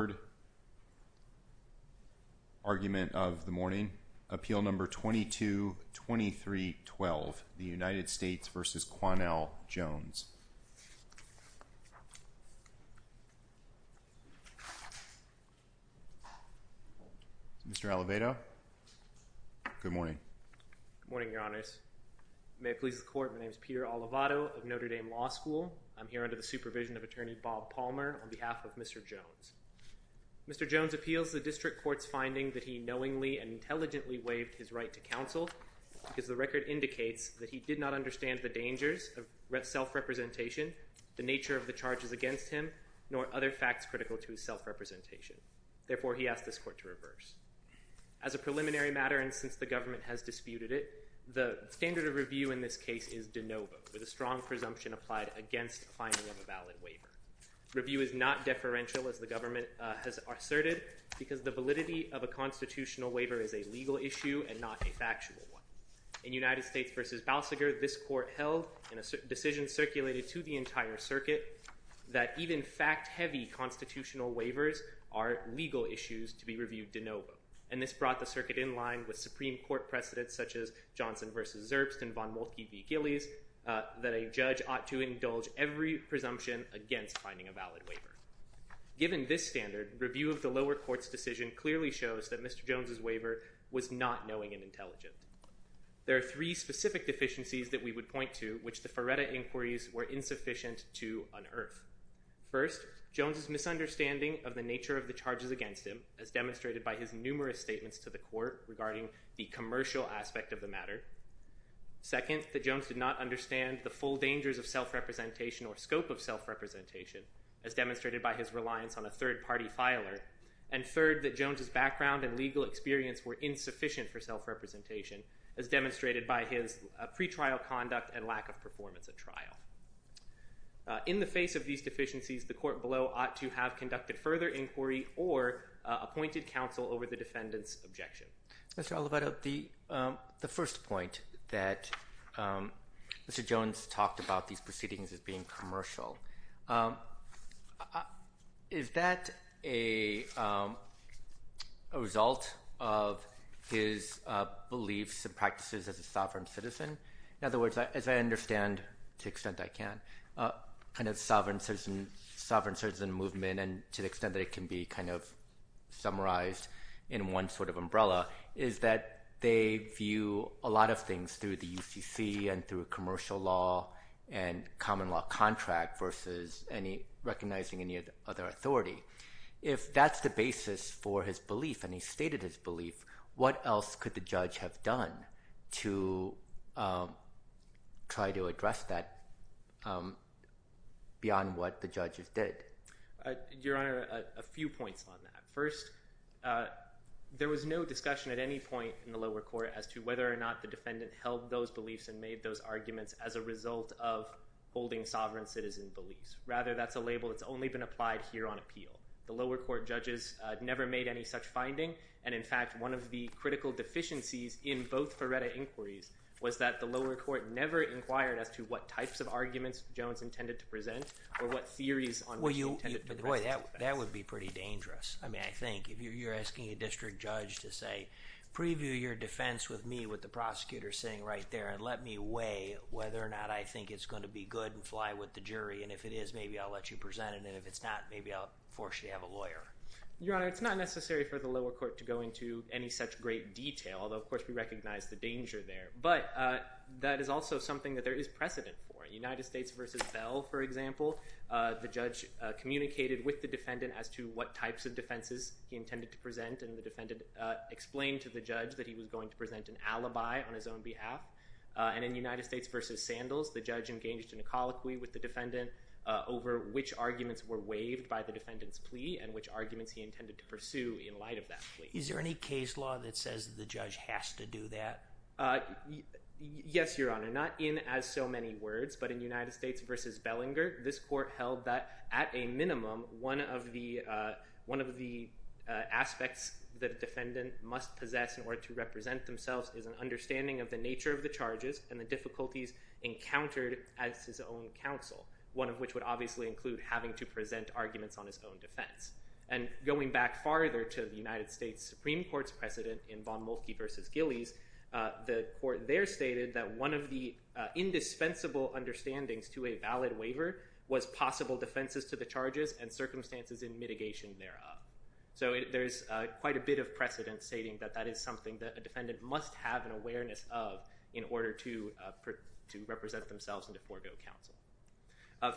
Mr. Alavado, good morning. Good morning, your honors. May it please the court, my name is Peter Alavado of Notre Dame Law School. I'm here under the supervision of attorney Bob Jones. Mr. Jones appeals the district court's finding that he knowingly and intelligently waived his right to counsel because the record indicates that he did not understand the dangers of self-representation, the nature of the charges against him, nor other facts critical to his self-representation. Therefore, he asked this court to reverse. As a preliminary matter and since the government has disputed it, the standard of review in this case is de novo, with a strong presumption applied against finding of a valid waiver. Review is not deferential, as the government has asserted, because the validity of a constitutional waiver is a legal issue and not a factual one. In United States v. Balsiger, this court held in a decision circulated to the entire circuit that even fact-heavy constitutional waivers are legal issues to be reviewed de novo. And this brought the circuit in line with Supreme Court precedents such as Johnson v. Zerbst and Von Moltke v. Gillies that a Given this standard, review of the lower court's decision clearly shows that Mr. Jones' waiver was not knowing and intelligent. There are three specific deficiencies that we would point to which the Ferretta inquiries were insufficient to unearth. First, Jones' misunderstanding of the nature of the charges against him, as demonstrated by his numerous statements to the court regarding the commercial aspect of the matter. Second, that Jones did not his reliance on a third-party filer. And third, that Jones' background and legal experience were insufficient for self-representation, as demonstrated by his pretrial conduct and lack of performance at trial. In the face of these deficiencies, the court below ought to have conducted further inquiry or appointed counsel over the defendant's objection. Mr. Alivetta, the first point that Mr. Jones talked about these proceedings as being commercial is that a result of his beliefs and practices as a sovereign citizen? In other words, as I understand, to the extent I can, kind of sovereign citizen movement and to the extent that it can be kind of summarized in one sort of umbrella, is that they view a lot of things through the UCC and through commercial law and common law contract versus any recognizing any other authority. If that's the basis for his belief and he stated his belief, what else could the judge have done to try to address that beyond what the judges did? Your Honor, a few points on that. First, there was no discussion at any point in the lower court as to whether or not the defendant held those beliefs and made those arguments as a result of holding sovereign citizen beliefs. Rather, that's a label that's only been applied here on appeal. The lower court judges never made any such finding, and in fact, one of the critical deficiencies in both Ferretta inquiries was that the lower court never inquired as to what types of arguments Jones intended to present or what theories on which he intended to present. Boy, that would be pretty dangerous. I mean, I think if you're asking a district judge to say, preview your defense with me with the prosecutor sitting right there and let me weigh whether or not I think it's going to be good and fly with the jury, and if it is, maybe I'll let you present it, and if it's not, maybe I'll force you to have a lawyer. Your Honor, it's not necessary for the lower court to go into any such great detail, although of course we recognize the danger there, but that is also something that there is precedent for. United States v. Bell, for example, the judge communicated with the defendant as to what types of defenses he intended to present, and the defendant explained to the judge that he was going to present an alibi on his own behalf. And in United States v. Sandals, the judge engaged in a colloquy with the defendant over which arguments were waived by the defendant's plea and which arguments he intended to pursue in light of that plea. Is there any case law that says the judge has to do that? Yes, Your Honor, not in as so many words, but in United States v. Bellinger, this court held that at a minimum, one of the aspects that a defendant must possess in order to represent themselves is an understanding of the nature of the charges and the difficulties encountered at his own counsel, one of which would obviously include having to present arguments on his own defense. And going back farther to the United States Supreme Court's precedent in Von Molfky v. Gillies, the court there stated that one of the indispensable understandings to a valid waiver was possible defenses to the charges and circumstances in mitigation thereof. So there's quite a bit of precedent stating that that is something that a defendant must have an awareness of in order to represent themselves in the forego counsel.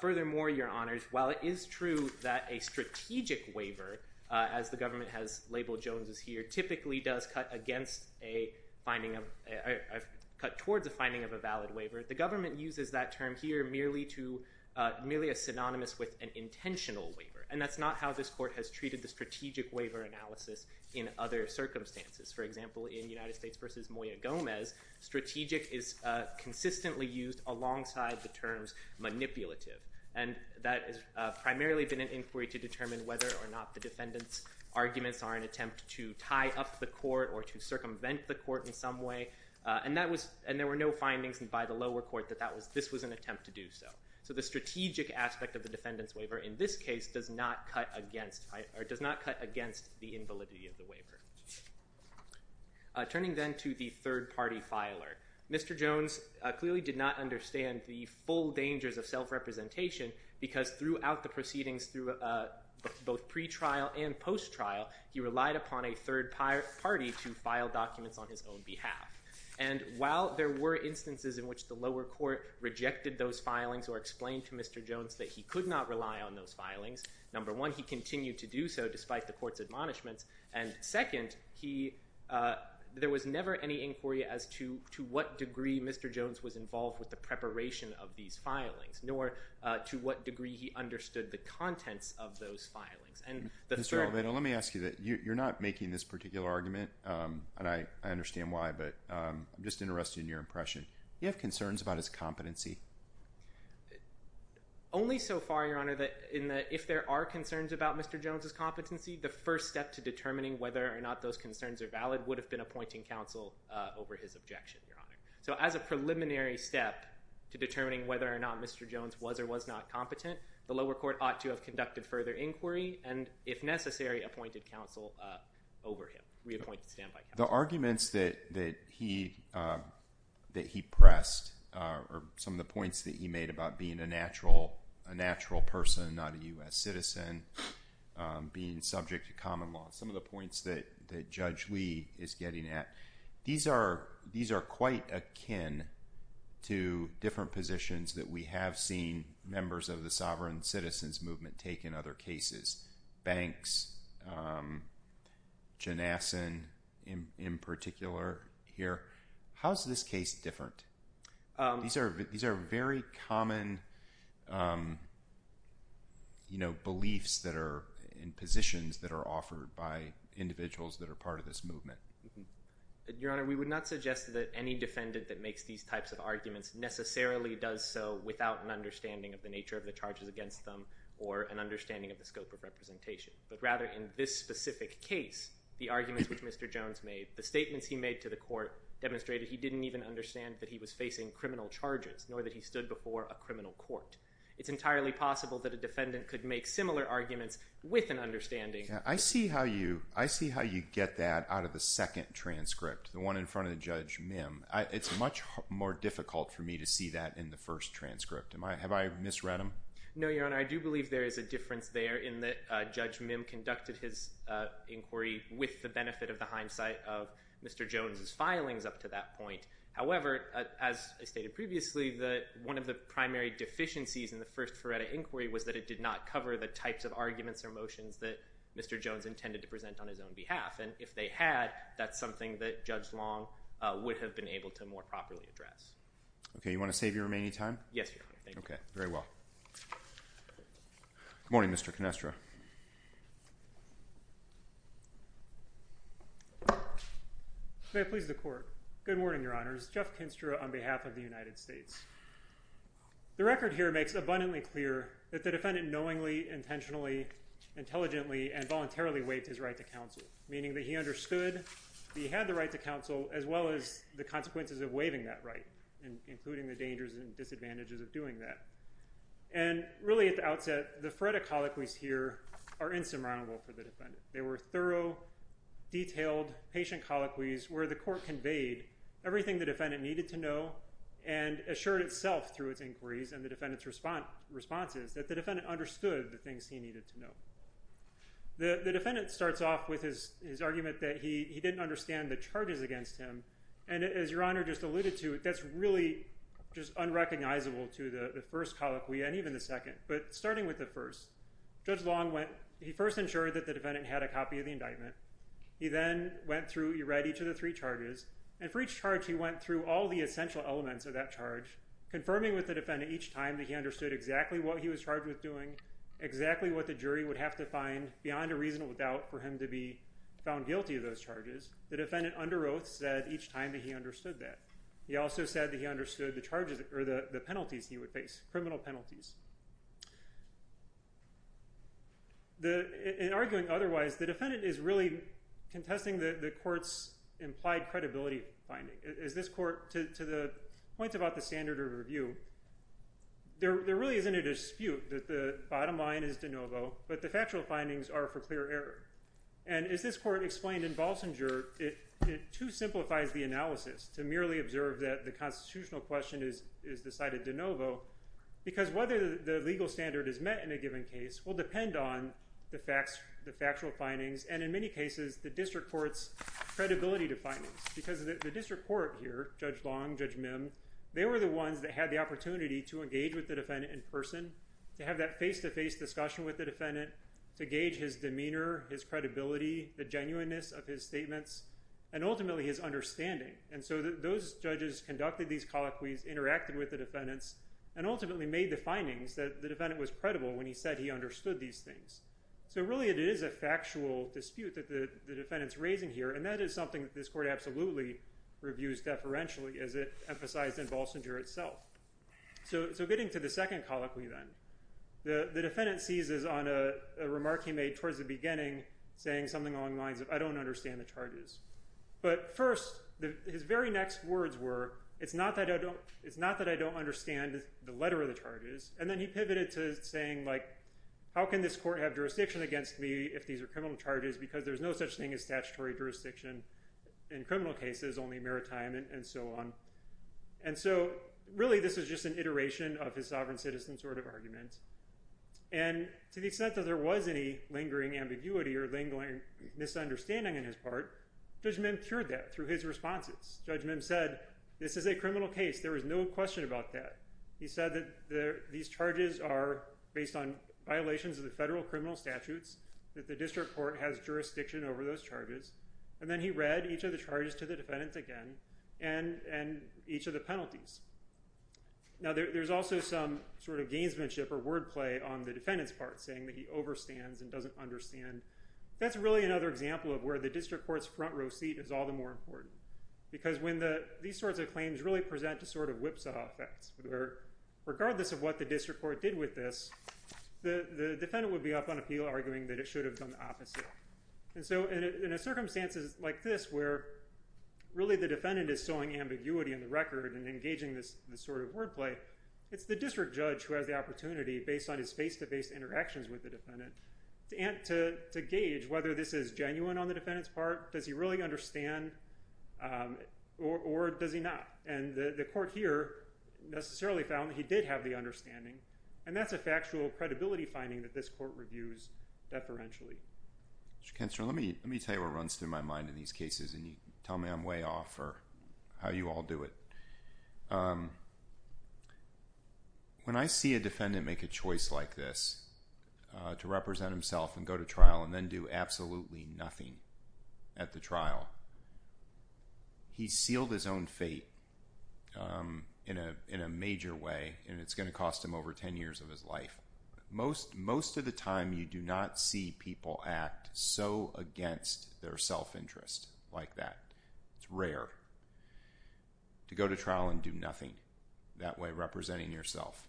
Furthermore, Your Honors, while it is true that a strategic waiver, as the government has labeled Jones' here, typically does cut against a finding of, cut towards a finding of a valid waiver, the government uses that term here merely to, merely as synonymous with an intentional waiver. And that's not how this court has treated the strategic waiver analysis in other circumstances. For example, in United States v. Moya Gomez, strategic is consistently used alongside the terms manipulative. And that has primarily been an inquiry to determine whether or not the defendant's arguments are an attempt to tie up the court or to circumvent the court in some way. And that was, and there were no findings by the lower court that that was, this was an attempt to do so. So the strategic aspect of the defendant's waiver in this case does not cut against, or does not cut against the invalidity of the waiver. Turning then to the third party filer. Mr. Jones clearly did not understand the full dangers of self-representation because throughout the proceedings through both pre-trial and trial, Mr. Jones did not have documents on his own behalf. And while there were instances in which the lower court rejected those filings or explained to Mr. Jones that he could not rely on those filings, number one, he continued to do so despite the court's admonishments. And second, he, uh, there was never any inquiry as to, to what degree Mr. Jones was involved with the preparation of these filings, nor to what degree he understood the contents of those filings. And the third- I, I understand why, but, um, I'm just interested in your impression. Do you have concerns about his competency? Only so far, Your Honor, that in the, if there are concerns about Mr. Jones's competency, the first step to determining whether or not those concerns are valid would have been appointing counsel, uh, over his objection, Your Honor. So as a preliminary step to determining whether or not Mr. Jones was or was not competent, the lower court ought to have conducted further inquiry and if necessary, appointed counsel, uh, over him, reappointed standby counsel. The arguments that, that he, uh, that he pressed, uh, or some of the points that he made about being a natural, a natural person, not a U.S. citizen, um, being subject to common law, some of the points that, that Judge Lee is getting at, these are, these are quite akin to different positions that we have seen members of the sovereign citizens movement take in other cases. Banks, um, Janassen in, in particular here. How's this case different? Um. These are, these are very common, um, you know, beliefs that are in positions that are offered by individuals that are part of this movement. Your Honor, we would not suggest that any defendant that makes these types of arguments necessarily does so without an understanding of the nature of the charges against them or an understanding of the scope of representation, but rather in this specific case, the arguments which Mr. Jones made, the statements he made to the court demonstrated he didn't even understand that he was facing criminal charges nor that he stood before a criminal court. It's entirely possible that a defendant could make similar arguments with an understanding. I see how you, I see how you get that out of the second transcript, the one in front of Judge Mim. I, it's much more difficult for me to see that in the first transcript. Am I, have I misread them? No, Your Honor. I do believe there is a difference there in that Judge Mim conducted his inquiry with the benefit of the hindsight of Mr. Jones's filings up to that point. However, as I stated previously, that one of the primary deficiencies in the first Ferretta inquiry was that it did not cover the types of arguments or motions that Mr. Jones intended to present on his own behalf. And if they had, that's something that Judge Long would have been able to more properly address. Okay. You want to save your remaining time? Yes, Your Honor. Thank you. Okay. Very well. Good morning, Mr. Canestra. May I please the court? Good morning, Your Honors. Jeff Canestra on behalf of the United States. The record here makes abundantly clear that the defendant knowingly, intentionally, intelligently, and voluntarily waived his right to counsel, meaning that he understood he had the right to counsel as well as the consequences of waiving that right, including the dangers and disadvantages of doing that. And really at the outset, the Ferretta colloquies here are insurmountable for the defendant. They were thorough, detailed, patient colloquies where the court conveyed everything the defendant needed to know and assured itself through its inquiries and the defendant's response, responses that the defendant understood the things he needed to know. The defendant starts off with his argument that he didn't understand the charges against him. And as Your Honor just alluded to, that's really just unrecognizable to the first colloquy and even the second. But starting with the first, Judge Long went, he first ensured that the defendant had a copy of the indictment. He then went through, he read each of the three charges. And for each charge, he went through all the essential elements of that charge, confirming with the defendant each time that he understood exactly what he was charged with doing, exactly what the jury would have to find beyond a reasonable doubt for him to be found guilty of those charges. The defendant under oath said each time that he understood that. He also said that he understood the charges or the penalties he would face, criminal penalties. In arguing otherwise, the defendant is really contesting the court's implied credibility finding. Is this court, to the point about the standard of review, there really isn't a dispute that the bottom line is de novo, but the factual findings are for clear error. And as this court explained in Balsinger, it too simplifies the analysis to merely observe that the constitutional question is decided de novo, because whether the legal standard is met in a given case will depend on the facts, the factual findings, and in many cases, the district court's credibility findings. Because the district court here, Judge Long, Judge Mim, they were the ones that had the opportunity to engage with the defendant in person, to have that face-to-face discussion with the defendant, to gauge his demeanor, his credibility, the genuineness of his statements, and ultimately his understanding. And so those judges conducted these colloquies, interacted with the defendants, and ultimately made the findings that the defendant was credible when he said he understood these things. So really, it is a factual dispute that the defendant's case, this court absolutely reviews deferentially, as it emphasized in Balsinger itself. So getting to the second colloquy then, the defendant seizes on a remark he made towards the beginning, saying something along the lines of, I don't understand the charges. But first, his very next words were, it's not that I don't understand the letter of the charges. And then he pivoted to saying, how can this court have jurisdiction against me if these are criminal charges, because there's no such thing as statutory jurisdiction in criminal cases, only maritime, and so on. And so really, this was just an iteration of his sovereign citizen sort of argument. And to the extent that there was any lingering ambiguity or lingering misunderstanding on his part, Judge Mim cured that through his responses. Judge Mim said, this is a criminal case. There is no question about that. He said, these charges are based on violations of the federal criminal statutes, that the district court has jurisdiction over those charges. And then he read each of the charges to the defendant again, and each of the penalties. Now, there's also some sort of gamesmanship or wordplay on the defendant's part, saying that he overstands and doesn't understand. That's really another example of where the district court's front row seat is all the more important. Because when these sorts of claims really present a sort of whipsaw effect, where regardless of what the district court did with this, the defendant would be up on appeal arguing that it should have done the opposite. And so in a circumstance like this, where really the defendant is sowing ambiguity in the record and engaging this sort of wordplay, it's the district judge who has the opportunity, based on his face-to-face interactions with the defendant, to gauge whether this is genuine on the defendant's part. Does he really understand? Or does he not? And the court here necessarily found that he did have the understanding. And that's a factual credibility finding that this court reviews deferentially. Mr. Kensler, let me tell you what runs through my mind in these cases, and you tell me I'm way off, or how you all do it. When I see a defendant make a choice like this, to represent himself and go to trial and then do absolutely nothing at the trial, he's sealed his own fate in a major way, and it's going to cost him over 10 years of his life. Most of the time, you do not see people act so against their self-interest like that. It's rare to go to trial and do nothing, that way representing yourself.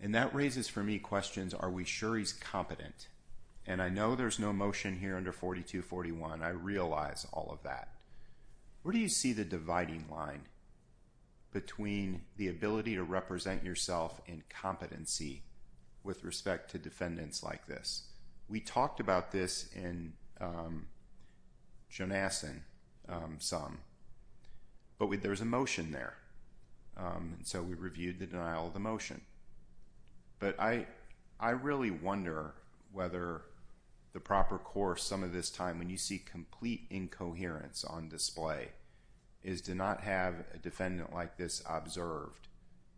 And that raises for me questions, are we sure he's competent? And I know there's no motion here under 4241, I realize all of that. Where do you see the dividing line between the ability to represent yourself and competency with respect to defendants like this? We talked about this in Jonasson some, but there's a denial of the motion. But I really wonder whether the proper course some of this time when you see complete incoherence on display, is to not have a defendant like this observed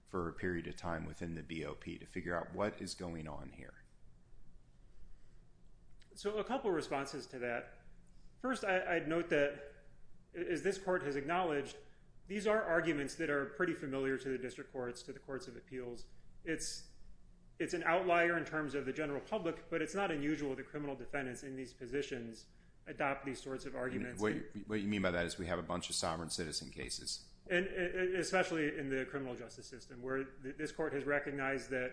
for a period of time within the BOP, to figure out what is going on here. So a couple of responses to that. First, I'd note that, as this court has acknowledged, these are arguments that are pretty familiar to the district courts, to the courts of appeals. It's an outlier in terms of the general public, but it's not unusual the criminal defendants in these positions adopt these sorts of arguments. What you mean by that is we have a bunch of sovereign citizen cases. Especially in the criminal justice system, where this court has recognized that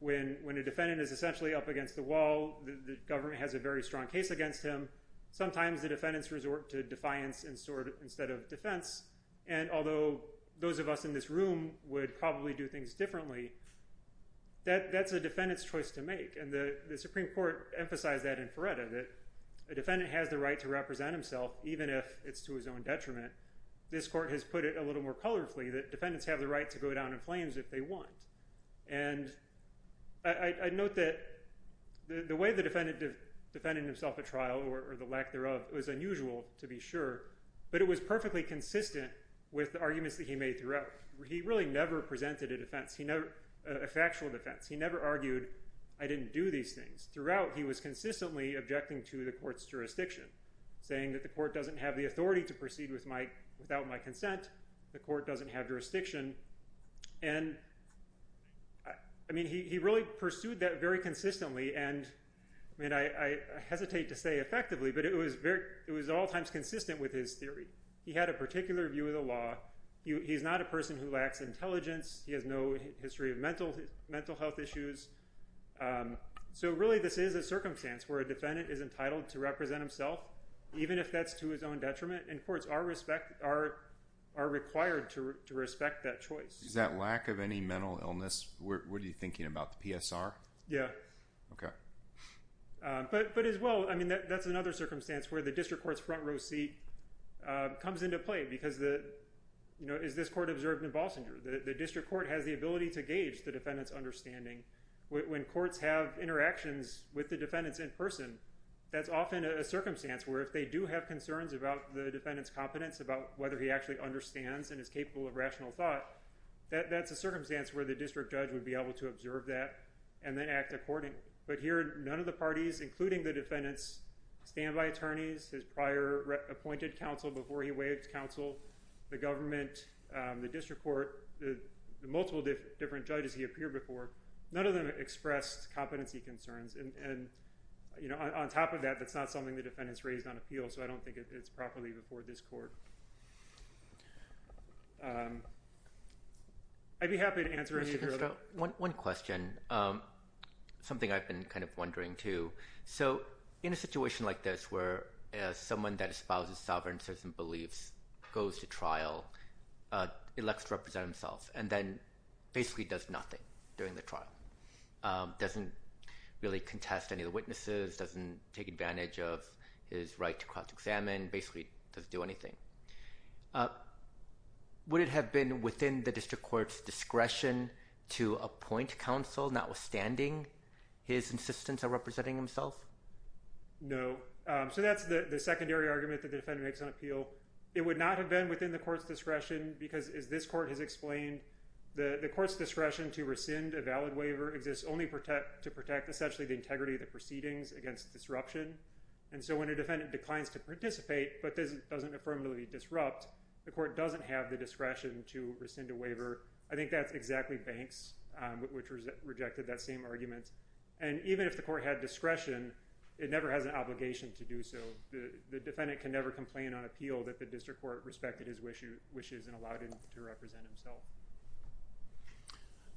when a defendant is essentially up against the wall, the government has a very strong case against him. Sometimes the defendants resort to defiance instead of defense. And although those of us in this room would probably do things differently, that's a defendant's choice to make. And the Supreme Court emphasized that in Feretta, that a defendant has the right to represent himself, even if it's to his own detriment. This court has put it a little more colorfully that defendants have the right to go down in flames if they want. And I note that the way the defendant defended himself at trial, or the lack thereof, was unusual, to be sure, but it was perfectly consistent with the arguments that he made throughout. He really never presented a defense, a factual defense. He never argued, I didn't do these things. Throughout, he was consistently objecting to the court's jurisdiction, saying that the court doesn't have the authority to proceed without my consent, the court doesn't have jurisdiction. And I mean, he really pursued that very consistently, and I mean, I hesitate to say effectively, but it was at all times consistent with his theory. He had a particular view of the law. He's not a person who lacks intelligence. He has no history of mental health issues. So really, this is a circumstance where a defendant is entitled to represent himself, even if that's to his own detriment, and courts are required to respect that choice. Is that lack of any mental illness, what are you thinking about, the PSR? Yeah. Okay. But as well, I mean, that's another circumstance where the district court's front row seat comes into play, because the, you know, is this court observed in Balsinger? The district court has the ability to gauge the defendant's understanding. When courts have interactions with the defendants in person, that's often a circumstance where if they do have concerns about the defendant's competence, about whether he actually understands and is capable of rational thought, that's a circumstance where the district judge would be able to observe that and then act accordingly. But here, none of the parties, including the defendant's standby attorneys, his prior appointed counsel before he waived counsel, the government, the district court, the multiple different judges he appeared before, none of them expressed competency concerns. And, you know, on top of that, that's not something the defendant's raised on appeal, so I don't think it's properly before this court. I'd be happy to answer any of your other... One question, something I've been kind of wondering, too. So, in a situation like this, where someone that espouses sovereignties and beliefs goes to trial, elects to represent himself, and then basically does nothing during the trial. Doesn't really contest any of the witnesses, doesn't take advantage of his right to cross-examine, basically doesn't do anything. Would it have been within the district court's discretion to rescind a valid waiver? No. So that's the secondary argument that the defendant makes on appeal. It would not have been within the court's discretion, because as this court has explained, the court's discretion to rescind a valid waiver exists only to protect, essentially, the integrity of the proceedings against disruption. And so when a defendant declines to participate, but doesn't affirmatively disrupt, the court doesn't have the discretion to rescind a waiver. I think that's exactly Banks, which rejected that same argument. And even if the court had discretion, it never has an obligation to do so. The defendant can never complain on appeal that the district court respected his wishes and allowed him to represent himself.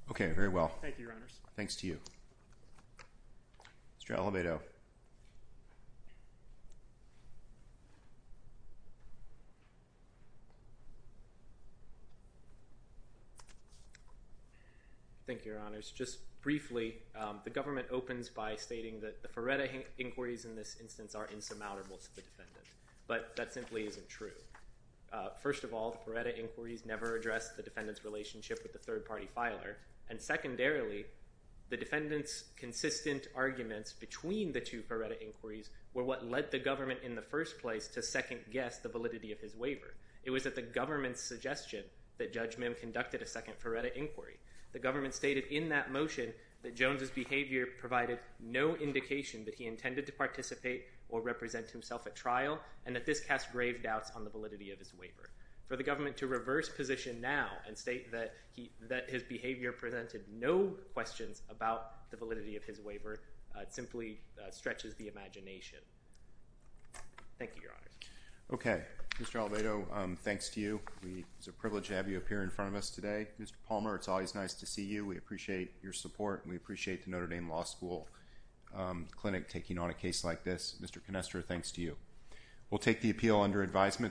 Okay, very well. Thank you, Your Honors. Just briefly, the government opens by stating that the Ferretta inquiries in this instance are insurmountable to the defendant. But that simply isn't true. First of all, the Ferretta inquiries never addressed the defendant's relationship with the third-party filer. And secondarily, the defendant's consistent arguments between the two Ferretta inquiries were what led the government in the first place to second-guess the validity of his waiver. It was at the second Ferretta inquiry. The government stated in that motion that Jones's behavior provided no indication that he intended to participate or represent himself at trial, and that this cast grave doubts on the validity of his waiver. For the government to reverse position now and state that his behavior presented no questions about the validity of his waiver simply stretches the imagination. Thank you, Your Honors. Okay, Mr. Alvado, thanks to you. It's a privilege to have you appear in front of us today. Mr. Palmer, it's always nice to see you. We appreciate your support, and we appreciate the Notre Dame Law School Clinic taking on a case like this. Mr. Canestra, thanks to you. We'll take the appeal under advisement.